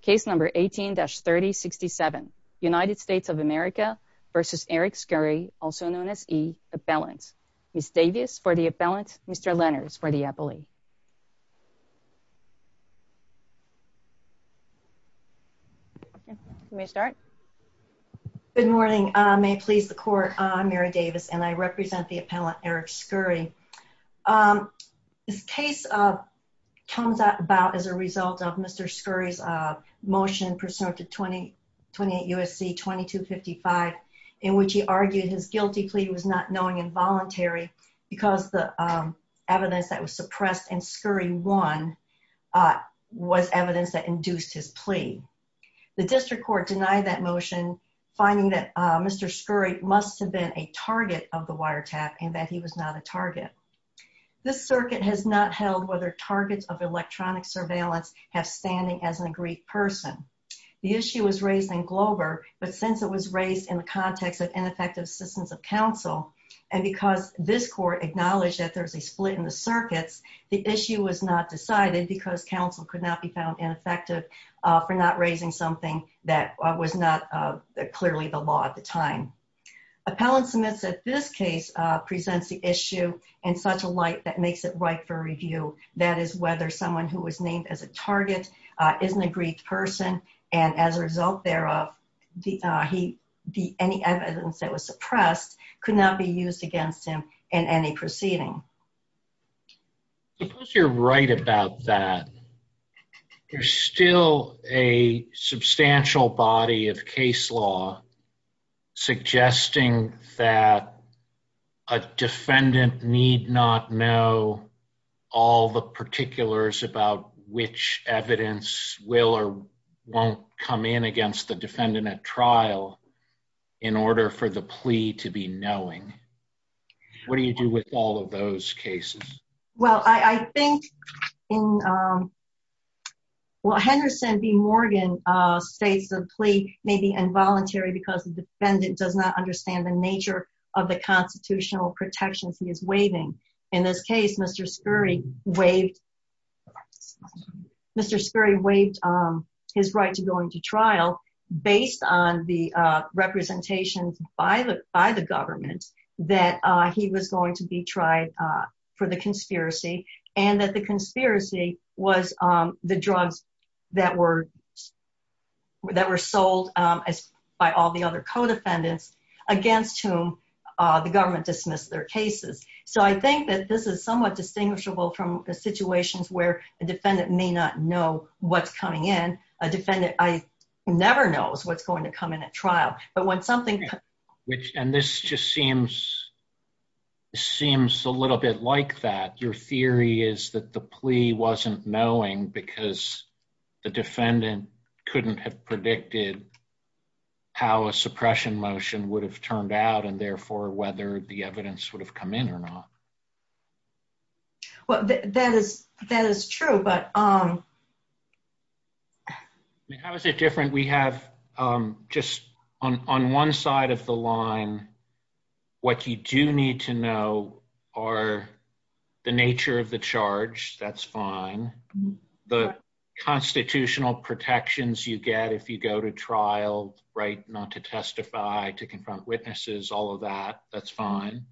case number 18-3067 United States of America v. Eric Scurry also known as E appellant. Ms. Davis for the appellant, Mr. Lenners for the appellee. Good morning may please the court I'm Mary Davis and I represent the appellant Eric Scurry um this case uh comes out about as a result of Mr. Scurry's uh motion pursuant to 2028 USC 2255 in which he argued his guilty plea was not knowing involuntary because the um evidence that was suppressed and Scurry won uh was evidence that induced his plea. The district court denied that motion finding that uh Mr. Scurry must have been a target of the wiretap and that he was not a this circuit has not held whether targets of electronic surveillance have standing as an agreed person. The issue was raised in Glover but since it was raised in the context of ineffective systems of counsel and because this court acknowledged that there's a split in the circuits the issue was not decided because counsel could not be found ineffective uh for not raising something that was not uh clearly the law at the time. Appellant submits that this case uh presents the issue in such a light that makes it right for review that is whether someone who was named as a target uh is an agreed person and as a result thereof the uh he the any evidence that was suppressed could not be used against him in any proceeding. Suppose you're right about that there's still a substantial body of case law suggesting that a defendant need not know all the particulars about which evidence will or won't come in against the defendant at trial in order for the plea to be knowing. What do you do with all of those cases? Well I think in um well Henderson v Morgan uh states the plea may be involuntary because the defendant does not understand the nature of the constitutional protections he is waiving. In this case Mr. Scurry waived Mr. Scurry waived um his right to go into trial based on the uh representations by the by the government that uh he was going to be tried uh for the conspiracy and that the conspiracy was um the drugs that were that were sold um as by all the other co-defendants against whom the government dismissed their cases. So I think that this is somewhat distinguishable from the situations where a defendant may not know what's coming in a defendant I never knows what's going to come in at trial but when something which and this just seems seems a little bit like that your theory is that the plea wasn't knowing because the defendant couldn't have predicted how a suppression motion would have turned out and therefore whether the evidence would have come in or not. Well that is that is true but um how is it different we have um just on on one side of the line what you do need to know are the nature of the charge that's fine the constitutional protections you get if you go to trial right not to testify to confront witnesses all of that that's fine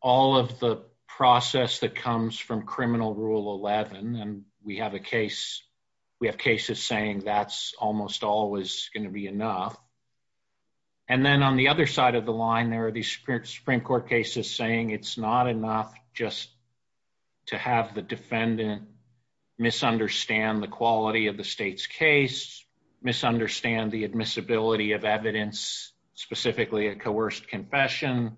all of the process that comes from criminal rule 11 and we have a case we have cases saying that's almost always going to be it's not enough just to have the defendant misunderstand the quality of the state's case misunderstand the admissibility of evidence specifically a coerced confession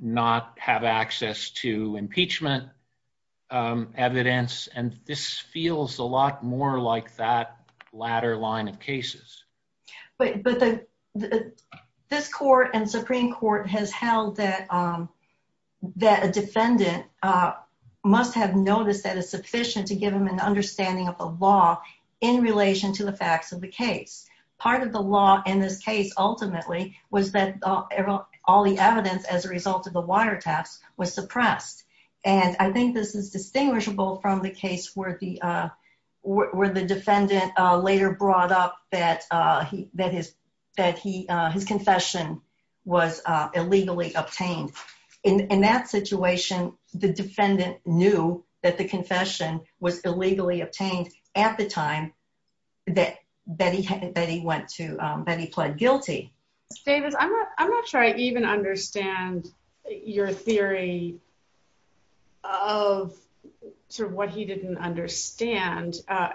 not have access to impeachment evidence and this feels a lot more like that latter line of cases. But the this court and supreme court has held that um that a defendant uh must have noticed that it's sufficient to give them an understanding of the law in relation to the facts of the case part of the law in this case ultimately was that all the evidence as a result of the wire test was suppressed and I think this is distinguishable from the case where the uh where the defendant later brought up that uh he that his that he uh his confession was uh illegally obtained in in that situation the defendant knew that the confession was illegally obtained at the time that that he had that he went to um that he pled guilty. Davis I'm not I'm not sure I even understand your theory of sort of what he didn't understand uh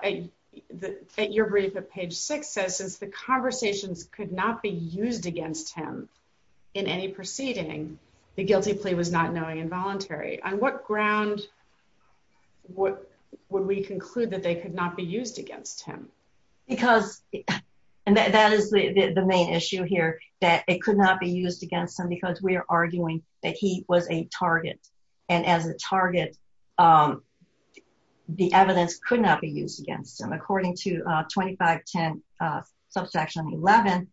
that your brief at page six says since the conversations could not be used against him in any proceeding the guilty plea was not knowing involuntary on what ground what would we conclude that they could not be used against him because and that is the the main issue here that it could not be used against him because we are arguing that he was a target and as a target um the evidence could not be used against him according to uh 25 10 uh subsection 11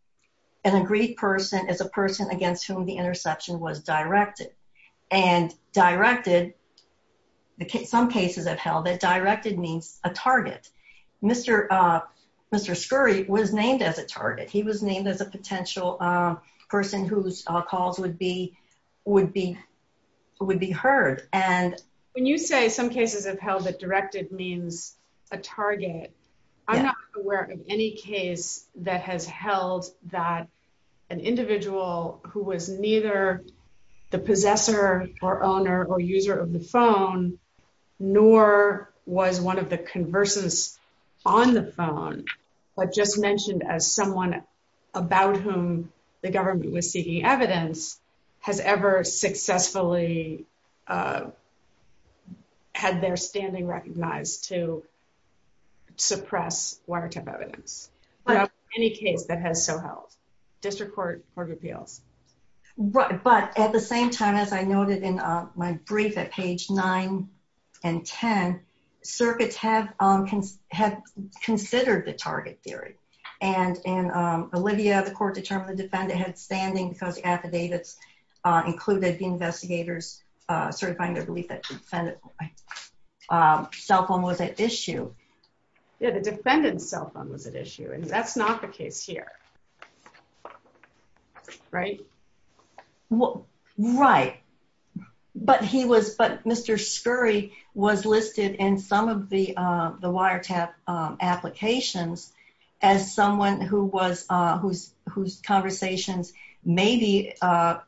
an agreed person is a person against whom the interception was directed and directed the some cases have held that directed means a target mr uh mr scurry was named as a target he was named as a potential um person whose calls would be would be would be heard and when you say some cases have held that directed means a target I'm not aware of any case that has held that an individual who was neither the possessor or owner or user of the phone nor was one of the conversants on the phone but just mentioned as someone about whom the government was seeking evidence has ever successfully uh had their standing recognized to suppress wiretap evidence but any case that has so held district court court appeals right but at the same time as I noted in my brief at page 9 and 10 circuits have um can have considered the target theory and and um olivia the court determined the defendant had standing because the affidavits uh included the investigators uh certifying their belief that the defendant um cell phone was at issue yeah the defendant's cell phone was at issue and that's not the case here right well right but he was but mr scurry was listed in some of the uh the wiretap um applications as someone who was uh whose whose conversations maybe uh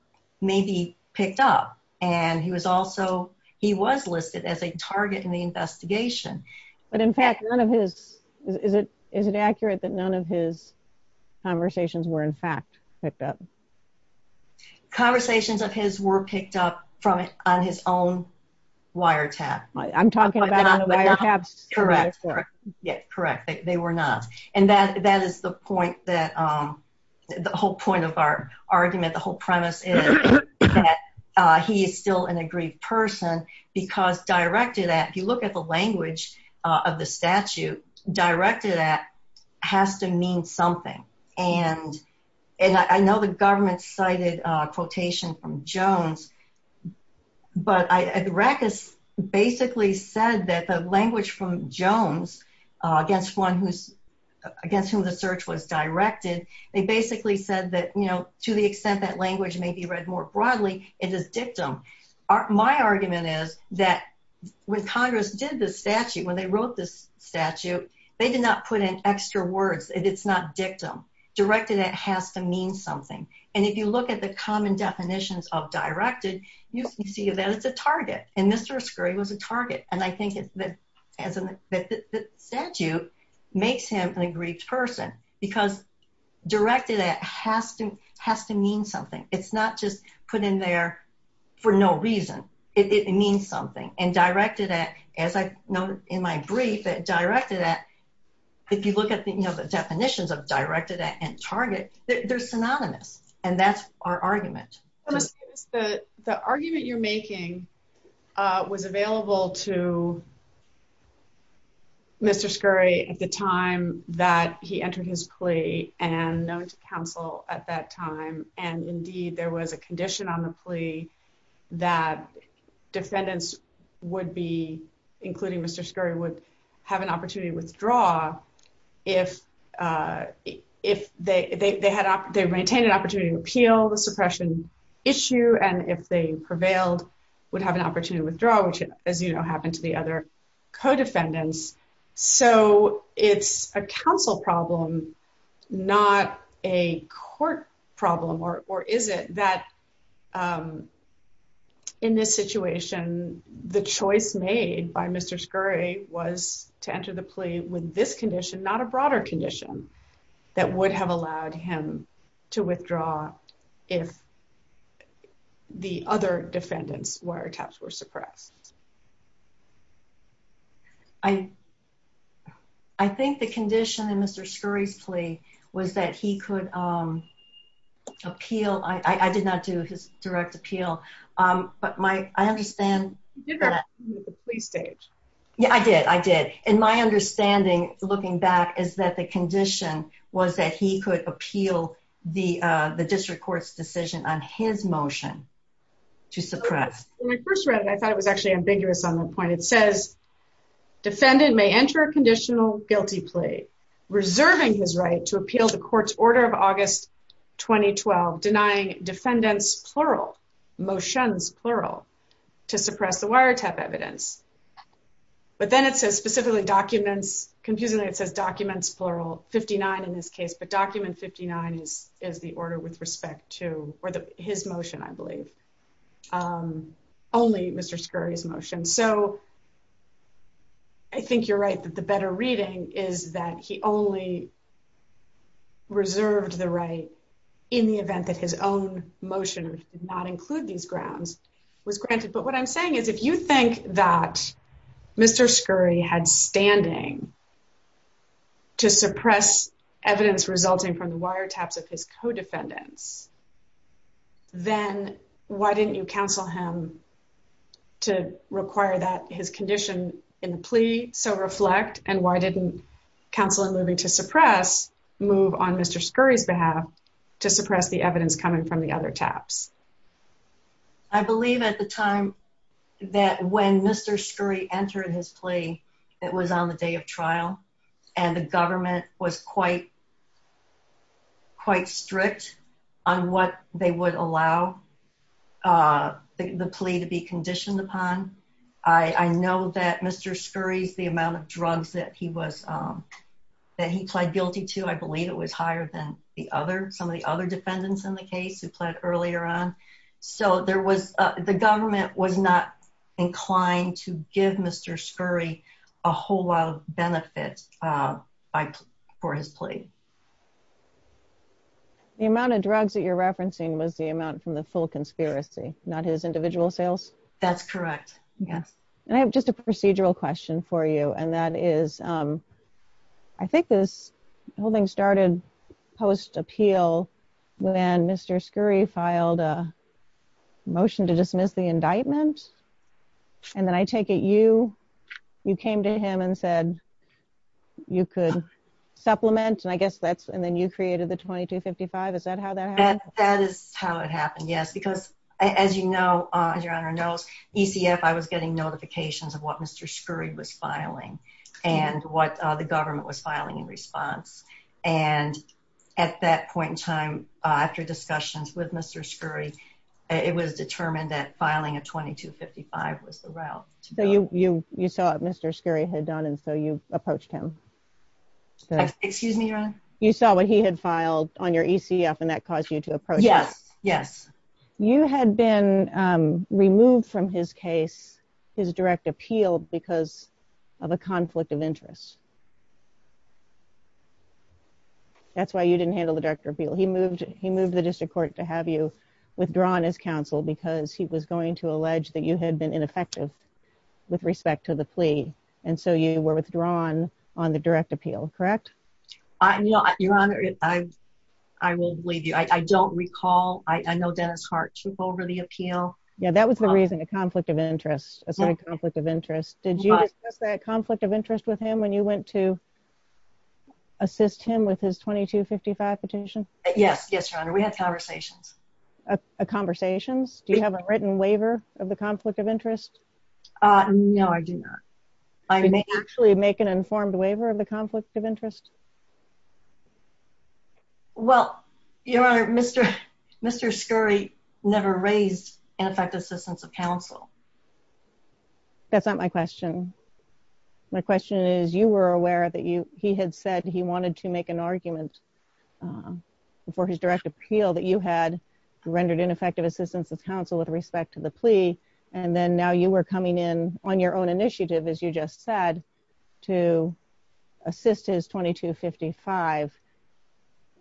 maybe picked up and he was also he was listed as a target in the investigation but in fact none of his is it is it accurate that none of his conversations were in fact picked up conversations of his were picked up from on his own wiretap i'm talking about correct yeah correct they were not and that that is the point that um the whole point of our argument the whole premise is that uh he is still an aggrieved person because directed at if you look at the language uh of the statute directed at has to mean something and and i know the government cited uh quotation from jones but i at the rack has basically said that the language from jones uh against one who's against whom the search was directed they basically said that you know to the extent that language may be read more broadly it is dictum my argument is that when congress did the statute when they wrote this statute they did not put in extra words it's not dictum directed that has to mean something and if you look at the common definitions of directed you see that it's a target and mr scurry was a target and i think it's that as a statute makes him an aggrieved person because directed at has to has to mean something it's not just put in there for no reason it means something and directed at as i know in my brief that directed at if you look at the you know the definitions of directed at and target they're synonymous and that's our argument the the and known to council at that time and indeed there was a condition on the plea that defendants would be including mr scurry would have an opportunity to withdraw if uh if they they had they maintained an opportunity to appeal the suppression issue and if they prevailed would have an opportunity to withdraw which as you know happened to the other co-defendants so it's a council problem not a court problem or or is it that um in this situation the choice made by mr scurry was to enter the plea with this condition not a broader condition that would have allowed him to withdraw if the other defendants wiretaps were suppressed i i think the condition in mr scurry's plea was that he could um appeal i i did not do his direct appeal um but my i understand the plea stage yeah i did i did and my understanding looking back is that the condition was that he could appeal the uh the district court's decision on his motion to suppress when i first read it i thought it was actually ambiguous on the point it says defendant may enter a conditional guilty plea reserving his right to appeal the court's order of august 2012 denying defendants plural motions plural to suppress the wiretap evidence but then it says specifically documents confusingly it says documents plural 59 in this his motion i believe um only mr scurry's motion so i think you're right that the better reading is that he only reserved the right in the event that his own motion did not include these grounds was granted but what i'm saying is if you think that mr scurry had standing to suppress evidence resulting from the wiretaps of his co-defendants then why didn't you counsel him to require that his condition in the plea so reflect and why didn't counsel in moving to suppress move on mr scurry's behalf to suppress the evidence coming from the other taps i believe at the time that when mr scurry entered his plea that was on the day of trial and the government was quite quite strict on what they would allow uh the plea to be conditioned upon i i know that mr scurry's the amount of drugs that he was um that he pled guilty to i believe it was higher than the other some of the other defendants in the case who pled earlier on so there was uh the government was not inclined to give mr scurry a whole lot of benefit uh by for his plea the amount of drugs that you're referencing was the amount from the full conspiracy not his individual sales that's correct yes and i have just a procedural question for you and that is um i think this whole thing started post appeal when mr scurry filed a you could supplement and i guess that's and then you created the 2255 is that how that happened that is how it happened yes because as you know uh your honor knows ecf i was getting notifications of what mr scurry was filing and what uh the government was filing in response and at that point in time uh after discussions with mr scurry it was determined that filing a 2255 was the route so you you you saw what mr scurry had done and so you approached him excuse me your honor you saw what he had filed on your ecf and that caused you to approach yes yes you had been um removed from his case his direct appeal because of a conflict of interest that's why you didn't handle the director appeal he moved he moved the district court to have you withdrawn his counsel because he was going to allege that you had been ineffective with respect to the plea and so you were withdrawn on the direct appeal correct i'm you know your honor i i will believe you i i don't recall i i know dennis hart took over the appeal yeah that was the reason a conflict of interest a sort of conflict of interest did you discuss that conflict of interest with him when you went to assist him with his 2255 petition yes yes your a conversations do you have a written waiver of the conflict of interest uh no i do not i may actually make an informed waiver of the conflict of interest well your honor mr mr scurry never raised ineffective assistance of counsel that's not my question my question is you were aware that you he had said he wanted to make an rendered ineffective assistance of counsel with respect to the plea and then now you were coming in on your own initiative as you just said to assist his 2255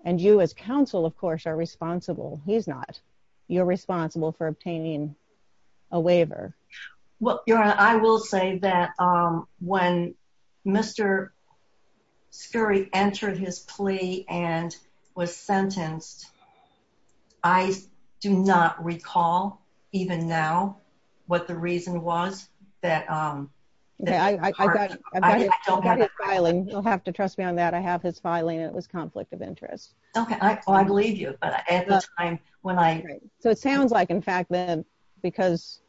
and you as counsel of course are responsible he's not you're responsible for obtaining a waiver well your honor i will say that when mr scurry entered his plea and was sentenced i do not recall even now what the reason was that um yeah i i don't have a filing you'll have to trust me on that i have his filing it was conflict of interest okay i i believe you but at the time when i so it sounds like in fact then because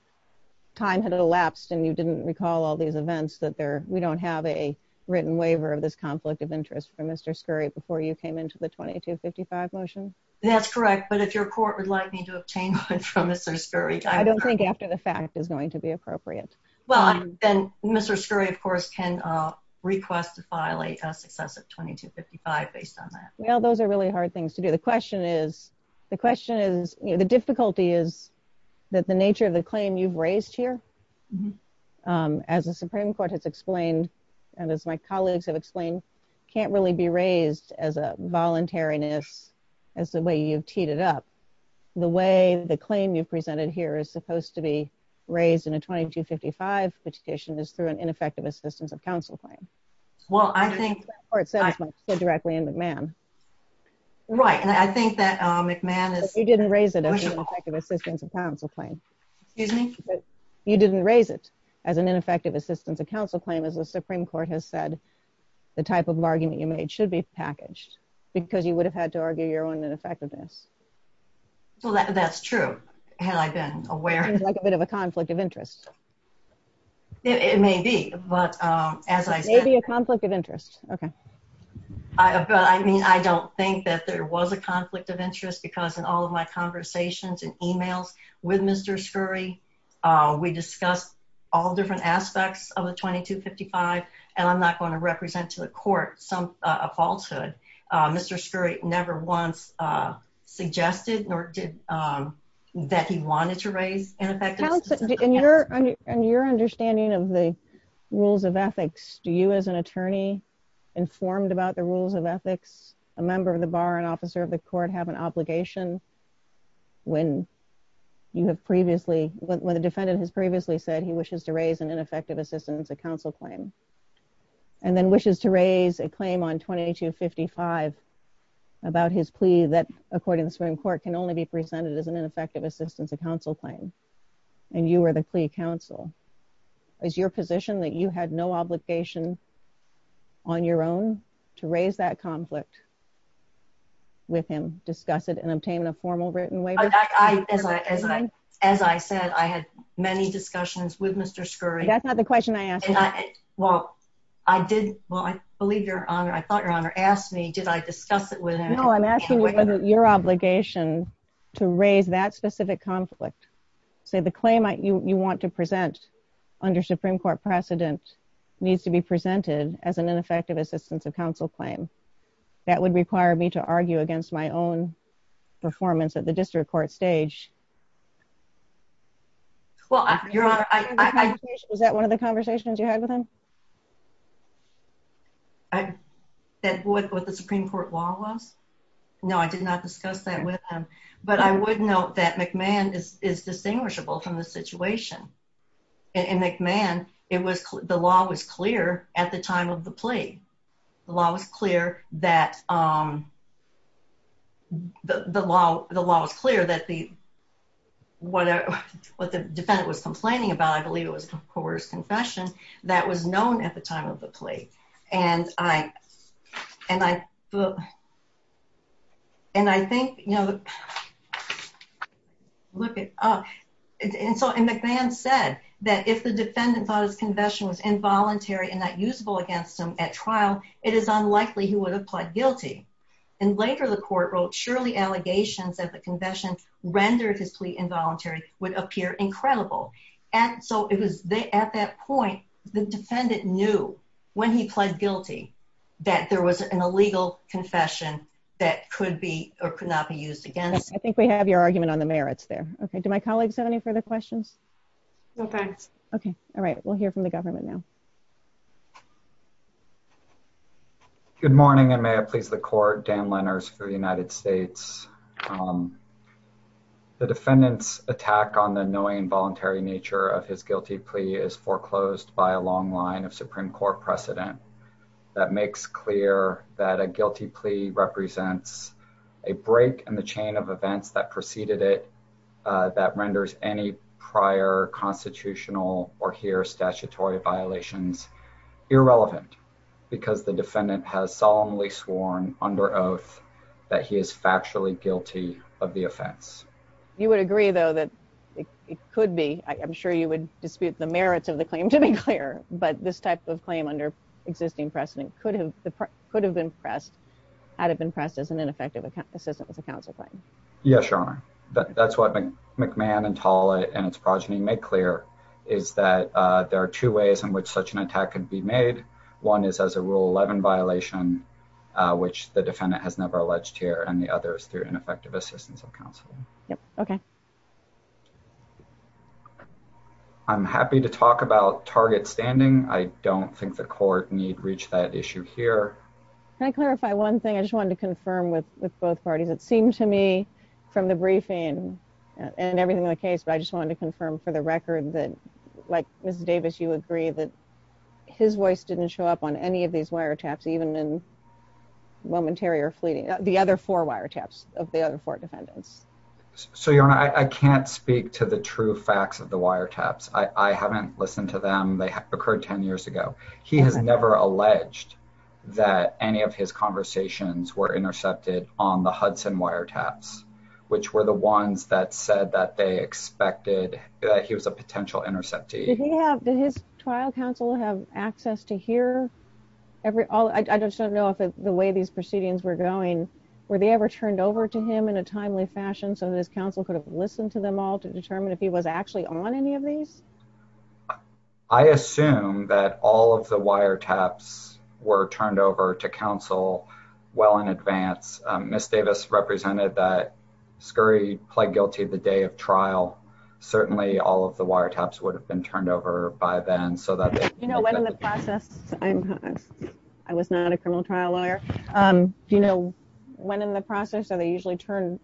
time had elapsed and you didn't recall all these events that there we don't have a written waiver of this conflict of interest for mr scurry before you came into the 2255 motion that's correct but if your court would like me to obtain one from mr scurry i don't think after the fact is going to be appropriate well then mr scurry of course can uh request to violate a successive 2255 based on that well those are really hard things to do the question is the question is you know the difficulty is that the nature of the court has explained and as my colleagues have explained can't really be raised as a voluntariness as the way you've teed it up the way the claim you've presented here is supposed to be raised in a 2255 petition is through an ineffective assistance of counsel claim well i think or it says directly in mcmahon right and i think that mcmahon is you didn't raise it effective assistance of counsel claim excuse me you didn't raise it as an ineffective assistance of counsel claim as the supreme court has said the type of argument you made should be packaged because you would have had to argue your own ineffectiveness well that's true had i been aware like a bit of a conflict of interest it may be but um as i said maybe a conflict of interest okay i but i mean i don't think that there was a conflict of interest because in all of my conversations and emails with mr scurry uh we discussed all different aspects of the 2255 and i'm not going to represent to the court some uh falsehood uh mr scurry never once uh suggested nor did um that he wanted to raise ineffective and your and your understanding of the rules of ethics do you as an attorney informed about the rules of ethics a member of the bar an the court have an obligation when you have previously when the defendant has previously said he wishes to raise an ineffective assistance of counsel claim and then wishes to raise a claim on 2255 about his plea that according to the supreme court can only be presented as an ineffective assistance of counsel claim and you are the plea counsel is your position that you had no obligation on your own to raise that conflict with him discuss it and obtain a formal written waiver as i as i as i said i had many discussions with mr scurry that's not the question i asked well i did well i believe your honor i thought your honor asked me did i discuss it with him no i'm asking whether your obligation to raise that specific conflict say the claim you want to present under supreme court precedent needs to be presented as an ineffective assistance of counsel claim that would require me to argue against my own performance at the district court stage well your honor i was that one of the conversations you had with him i said what the supreme court law was no i did not discuss that with him but i would note that mcmahon is is distinguishable from the situation and mcmahon it was the law was clear at the time of the plea the law was clear that um the the law the law was clear that the whatever what the defendant was complaining about i believe it was a coerced confession that was known at the time of the plea and i and i and i think you know look at uh and so mcmahon said that if the defendant thought his confession was involuntary and not usable against him at trial it is unlikely he would have pled guilty and later the court wrote surely allegations that the confession rendered his plea involuntary would appear incredible and so it was they at that point the defendant knew when he pled guilty that there was an illegal confession that could be or could not be used against i think we have your argument on the merits there okay do my colleagues have any further questions no thanks okay all right we'll hear from the government now good morning and may it please the court dan lenners for the united states um the defendant's attack on the annoying voluntary nature of his guilty plea is foreclosed by a long line of supreme court precedent that makes clear that a guilty plea represents a break in the chain of events that preceded it that renders any prior constitutional or here statutory violations irrelevant because the defendant has solemnly sworn under oath that he is factually guilty of the offense you would agree though that it could be i'm sure you would dispute the merits of the claim to be clear but this type of claim under existing precedent could could have been pressed had it been pressed as an ineffective assistant with the counsel claim yes your honor that's what mcmahon and tall and its progeny make clear is that uh there are two ways in which such an attack could be made one is as a rule 11 violation which the defendant has never alleged here and the others through ineffective assistance of counsel yep okay um i'm happy to talk about target standing i don't think the court need reach that issue here can i clarify one thing i just wanted to confirm with with both parties it seemed to me from the briefing and everything in the case but i just wanted to confirm for the record that like mrs davis you agree that his voice didn't show up on any of these wiretaps even in momentary or fleeting the other four wiretaps of the other four defendants so your honor i can't speak to the true facts of the wiretaps i i haven't listened to them they occurred 10 years ago he has never alleged that any of his conversations were intercepted on the hudson wiretaps which were the ones that said that they expected that he was a potential interceptee yeah did his trial counsel have access to hear every all i just don't know the way these proceedings were going were they ever turned over to him in a timely fashion so his counsel could have listened to them all to determine if he was actually on any of these i assume that all of the wiretaps were turned over to counsel well in advance miss davis represented that scurry pled guilty the day of trial certainly all of the wiretaps would have turned over by then so that you know when in the process i'm i was not a criminal trial lawyer um do you know when in the process are they usually turned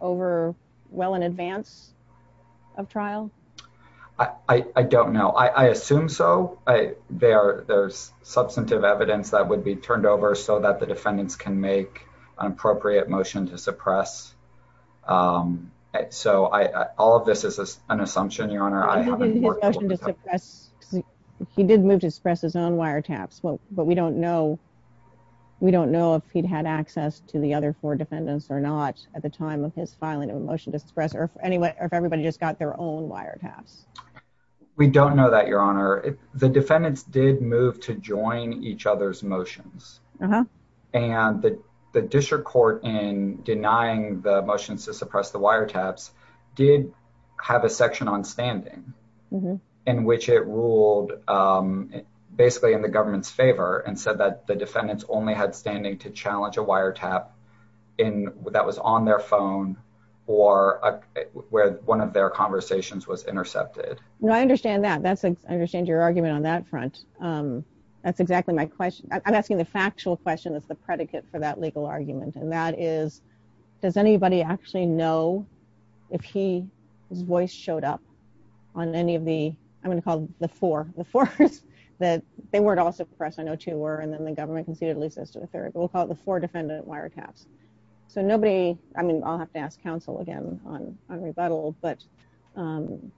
over well in advance of trial i i don't know i i assume so i they are there's substantive evidence that would be turned over so that the defendants can make an appropriate motion to suppress um so i i all of this is an assumption your honor i haven't his motion to suppress he did move to express his own wiretaps but we don't know we don't know if he'd had access to the other four defendants or not at the time of his filing of a motion to suppress or anyway or if everybody just got their own wire taps we don't know that your honor the defendants did move to join each other's motions uh-huh and the district court in denying the motions to suppress the wiretaps did have a section on standing in which it ruled um basically in the government's favor and said that the defendants only had standing to challenge a wiretap in that was on their phone or where one of their conversations was intercepted no i understand that that's i understand your argument on that front um that's exactly my question i'm asking the factual question that's the predicate for that legal argument and that is does anybody actually know if he his voice showed up on any of the i'm going to call the four the force that they weren't all suppressed i know two were and then the government conceded at least as to the third we'll call it the four defendant wiretaps so nobody i mean i'll have to ask counsel again on on rebuttal but um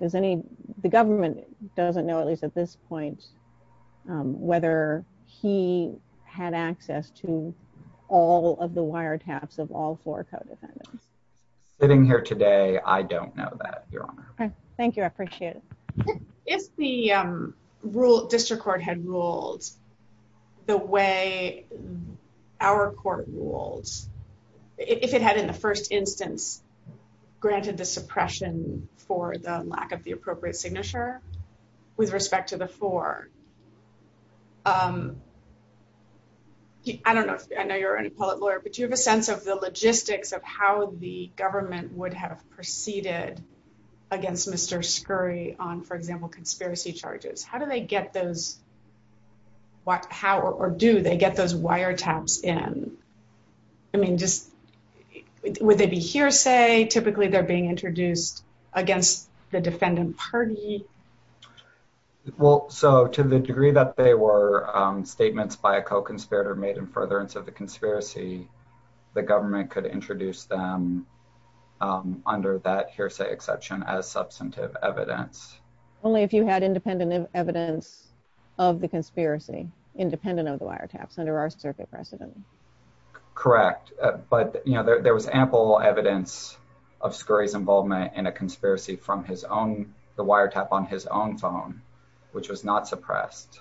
there's any the government doesn't know at at this point um whether he had access to all of the wiretaps of all four co-defendants sitting here today i don't know that your honor thank you i appreciate it if the um rule district court had ruled the way our court rules if it had in the first instance granted the suppression for the lack of the appropriate signature with respect to the four um i don't know if i know you're an appellate lawyer but you have a sense of the logistics of how the government would have proceeded against mr scurry on for example conspiracy charges how do they get those what how or do they get those wiretaps in i mean just would they be hearsay typically they're being introduced against the defendant party well so to the degree that they were statements by a co-conspirator made in furtherance of the conspiracy the government could introduce them under that hearsay exception as substantive evidence only if you had independent evidence of the conspiracy independent of the wiretaps under our circuit precedent correct but you know there was ample evidence of scurry's involvement in a conspiracy from his own the wiretap on his own phone which was not suppressed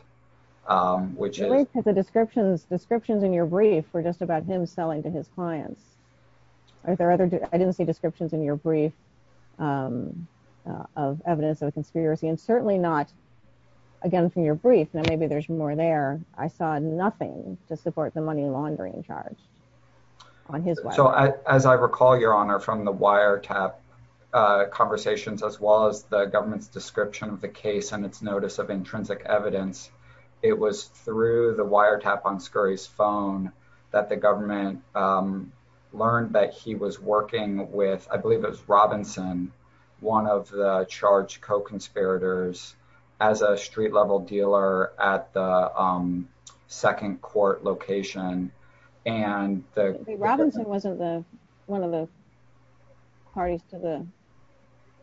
which is the descriptions descriptions in your brief were just about him selling to his clients are there other i didn't see descriptions in your brief um of evidence of conspiracy and certainly not again from your brief now maybe there's more there i saw nothing to support the money laundering charge on his way so as i recall your honor from the wiretap uh conversations as well as the government's description of the case and its notice of intrinsic evidence it was through the wiretap on scurry's phone that the government um learned that he was working with i believe it was robinson one of the charged co-conspirators as a street level dealer at the um second court location and the robinson wasn't the one of the parties to the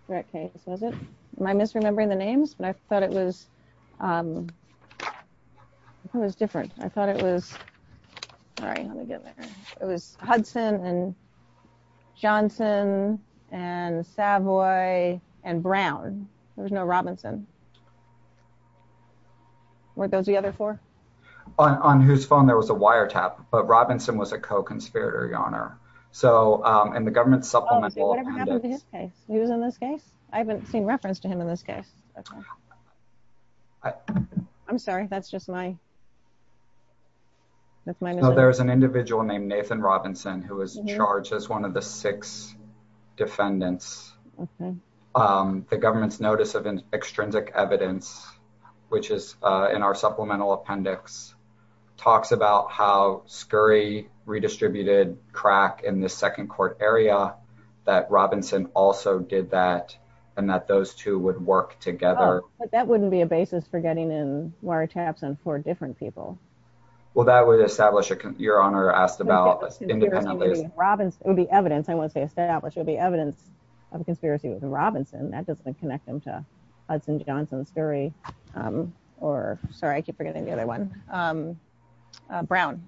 threat case was it am i misremembering the names but i thought it was um it was different i thought it was all right let me get there it was hudson and johnson and savoy and brown there was no robinson were those the other four on on whose phone there was a wiretap but robinson was a co-conspirator your honor so um and the government's supplemental he was in this case i haven't seen reference to him in this case i i'm sorry that's just my that's my there's an individual named nathan robinson who was charged as one of the six defendants okay um the government's notice of an extrinsic evidence which is uh in our supplemental appendix talks about how scurry redistributed crack in this second court area that robinson also did that and that those two would work together but that wouldn't be a basis for getting in wiretaps and for different people well that would establish a your honor asked about independently robinson it would be evidence i want to say established it would be evidence of a conspiracy with robinson that doesn't connect them to hudson johnson scurry um or sorry i keep forgetting the other one um brown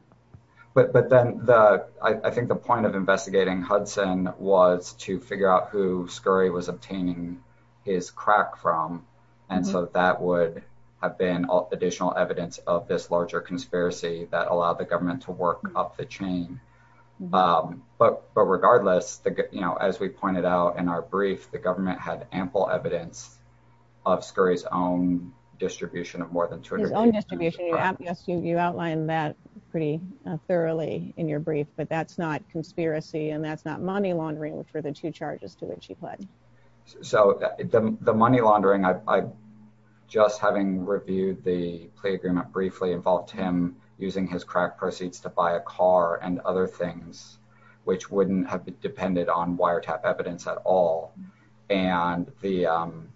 but but the i think the point of investigating hudson was to figure out who scurry was obtaining his crack from and so that would have been additional evidence of this larger conspiracy that allowed the government to work up the chain um but but regardless the you know as we pointed out in our brief the government had ample evidence of scurry's own distribution of more than 200 yes you outlined that pretty thoroughly in your brief but that's not conspiracy and that's not money laundering which were the two charges to which he pledged so the money laundering i just having reviewed the plea agreement briefly involved him using his crack proceeds to buy a car and other things which wouldn't have depended on wiretap evidence at all and the um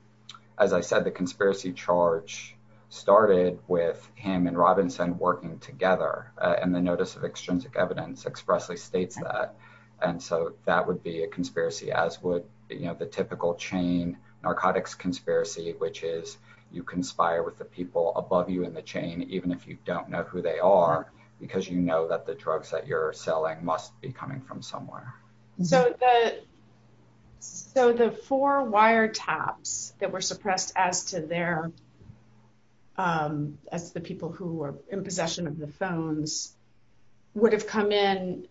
as i said the conspiracy charge started with him and robinson working together and the notice of extrinsic evidence expressly states that and so that would be a conspiracy as would you know the typical chain narcotics conspiracy which is you conspire with the people above you in the chain even if you don't know who they are because you know that the drugs that you're selling must be coming from so the so the four wiretaps that were suppressed as to their um as the people who were in possession of the phones would have come in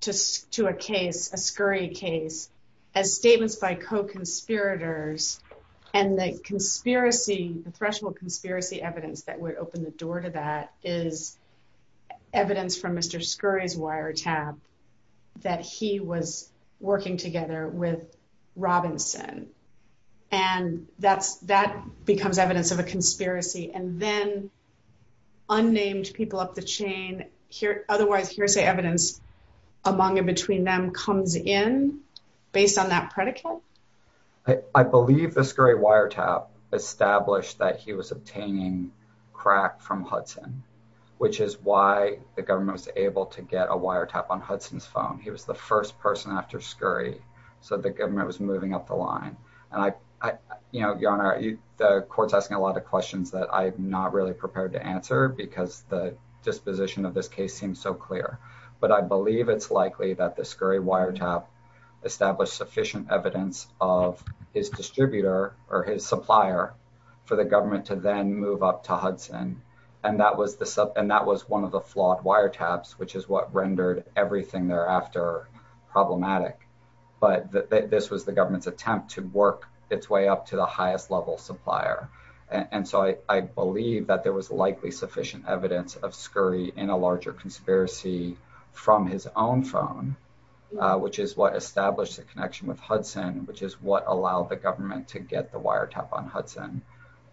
to a case a scurry case as statements by co-conspirators and the conspiracy the threshold conspiracy evidence that would open the door to that is evidence from mr scurry's wiretap that he was working together with robinson and that's that becomes evidence of a conspiracy and then unnamed people up the chain here otherwise hearsay evidence among and between them comes in based on that predicate i believe the scurry wiretap established that he was obtaining crack from hudson which is why the government was able to get a wiretap on hudson's phone he was the first person after scurry so the government was moving up the line and i i you know your honor you the court's asking a lot of questions that i'm not really prepared to answer because the disposition of this case seems so clear but i believe it's sufficient evidence of his distributor or his supplier for the government to then move up to hudson and that was the sub and that was one of the flawed wiretaps which is what rendered everything thereafter problematic but that this was the government's attempt to work its way up to the highest level supplier and so i i believe that there was likely sufficient evidence of scurry in a larger conspiracy from his own phone which is what established the connection with hudson which is what allowed the government to get the wiretap on hudson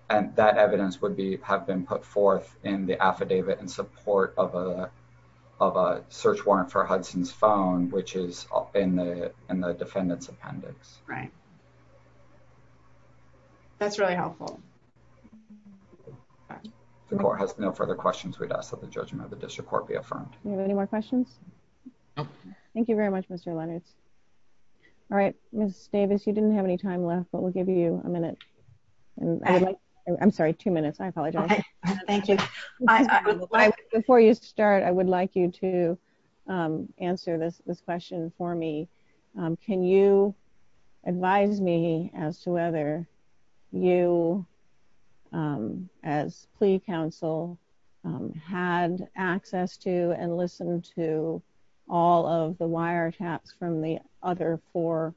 and that evidence would be have been put forth in the affidavit in support of a of a search warrant for hudson's phone which is in the in the defendant's appendix right that's really helpful all right the court has no further questions we'd ask that the judgment of the district court be affirmed you have any more questions thank you very much mr leonards all right miss davis you didn't have any time left but we'll give you a minute and i would like i'm sorry two minutes i apologize thank you before you start i would like you to um answer this this question for me um can you advise me as to whether you um as plea counsel um had access to and listened to all of the wiretaps from the other four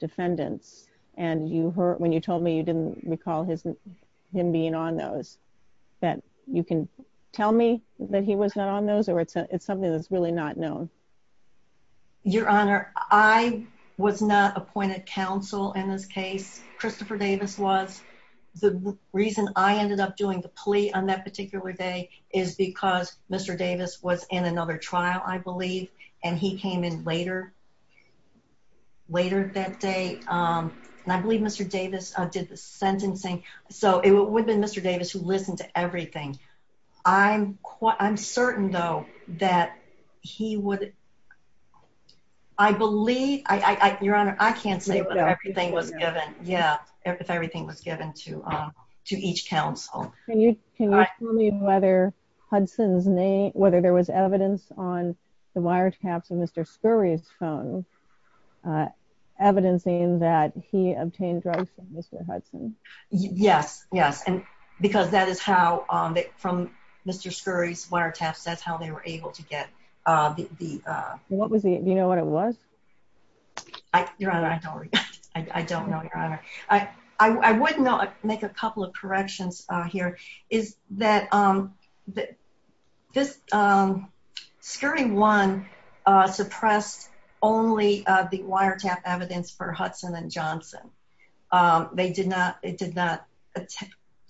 defendants and you heard when you told me you didn't recall his him being on those that you can tell me that he was not on those or it's something that's really not known your honor i was not appointed counsel in this case christopher davis was the reason i ended up doing the plea on that particular day is because mr davis was in another trial i believe and he came in later later that day um and i believe mr davis did the sentencing so it would mr davis who listened to everything i'm quite i'm certain though that he would i believe i i your honor i can't say but everything was given yeah if everything was given to um to each council can you can you tell me whether hudson's name whether there was evidence on the wiretaps of mr scurry's phone uh evidencing that he obtained drugs from mr hudson yes yes because that is how um from mr scurry's wiretaps that's how they were able to get uh the uh what was the you know what it was i your honor i don't i don't know your honor i i wouldn't know make a couple of corrections uh here is that um that this um scurry one uh suppressed only uh the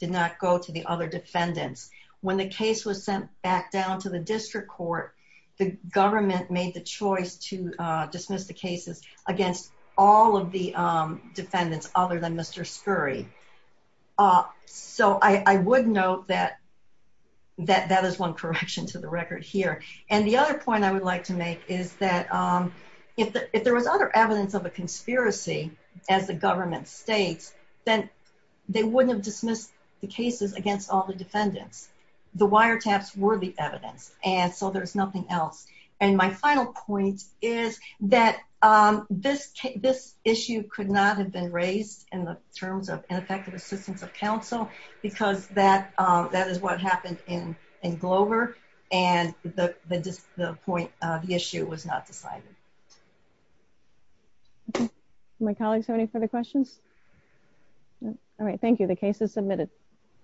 did not go to the other defendants when the case was sent back down to the district court the government made the choice to uh dismiss the cases against all of the um defendants other than mr scurry uh so i i would note that that that is one correction to the record here and the other point i would like to make is that um if there was other evidence of a conspiracy as the government states then they wouldn't have dismissed the cases against all the defendants the wiretaps were the evidence and so there's nothing else and my final point is that um this this issue could not have been raised in the terms of ineffective assistance of council because that um that is what happened in in glover and the the point uh the issue was not decided my colleagues have any further questions all right thank you the case is submitted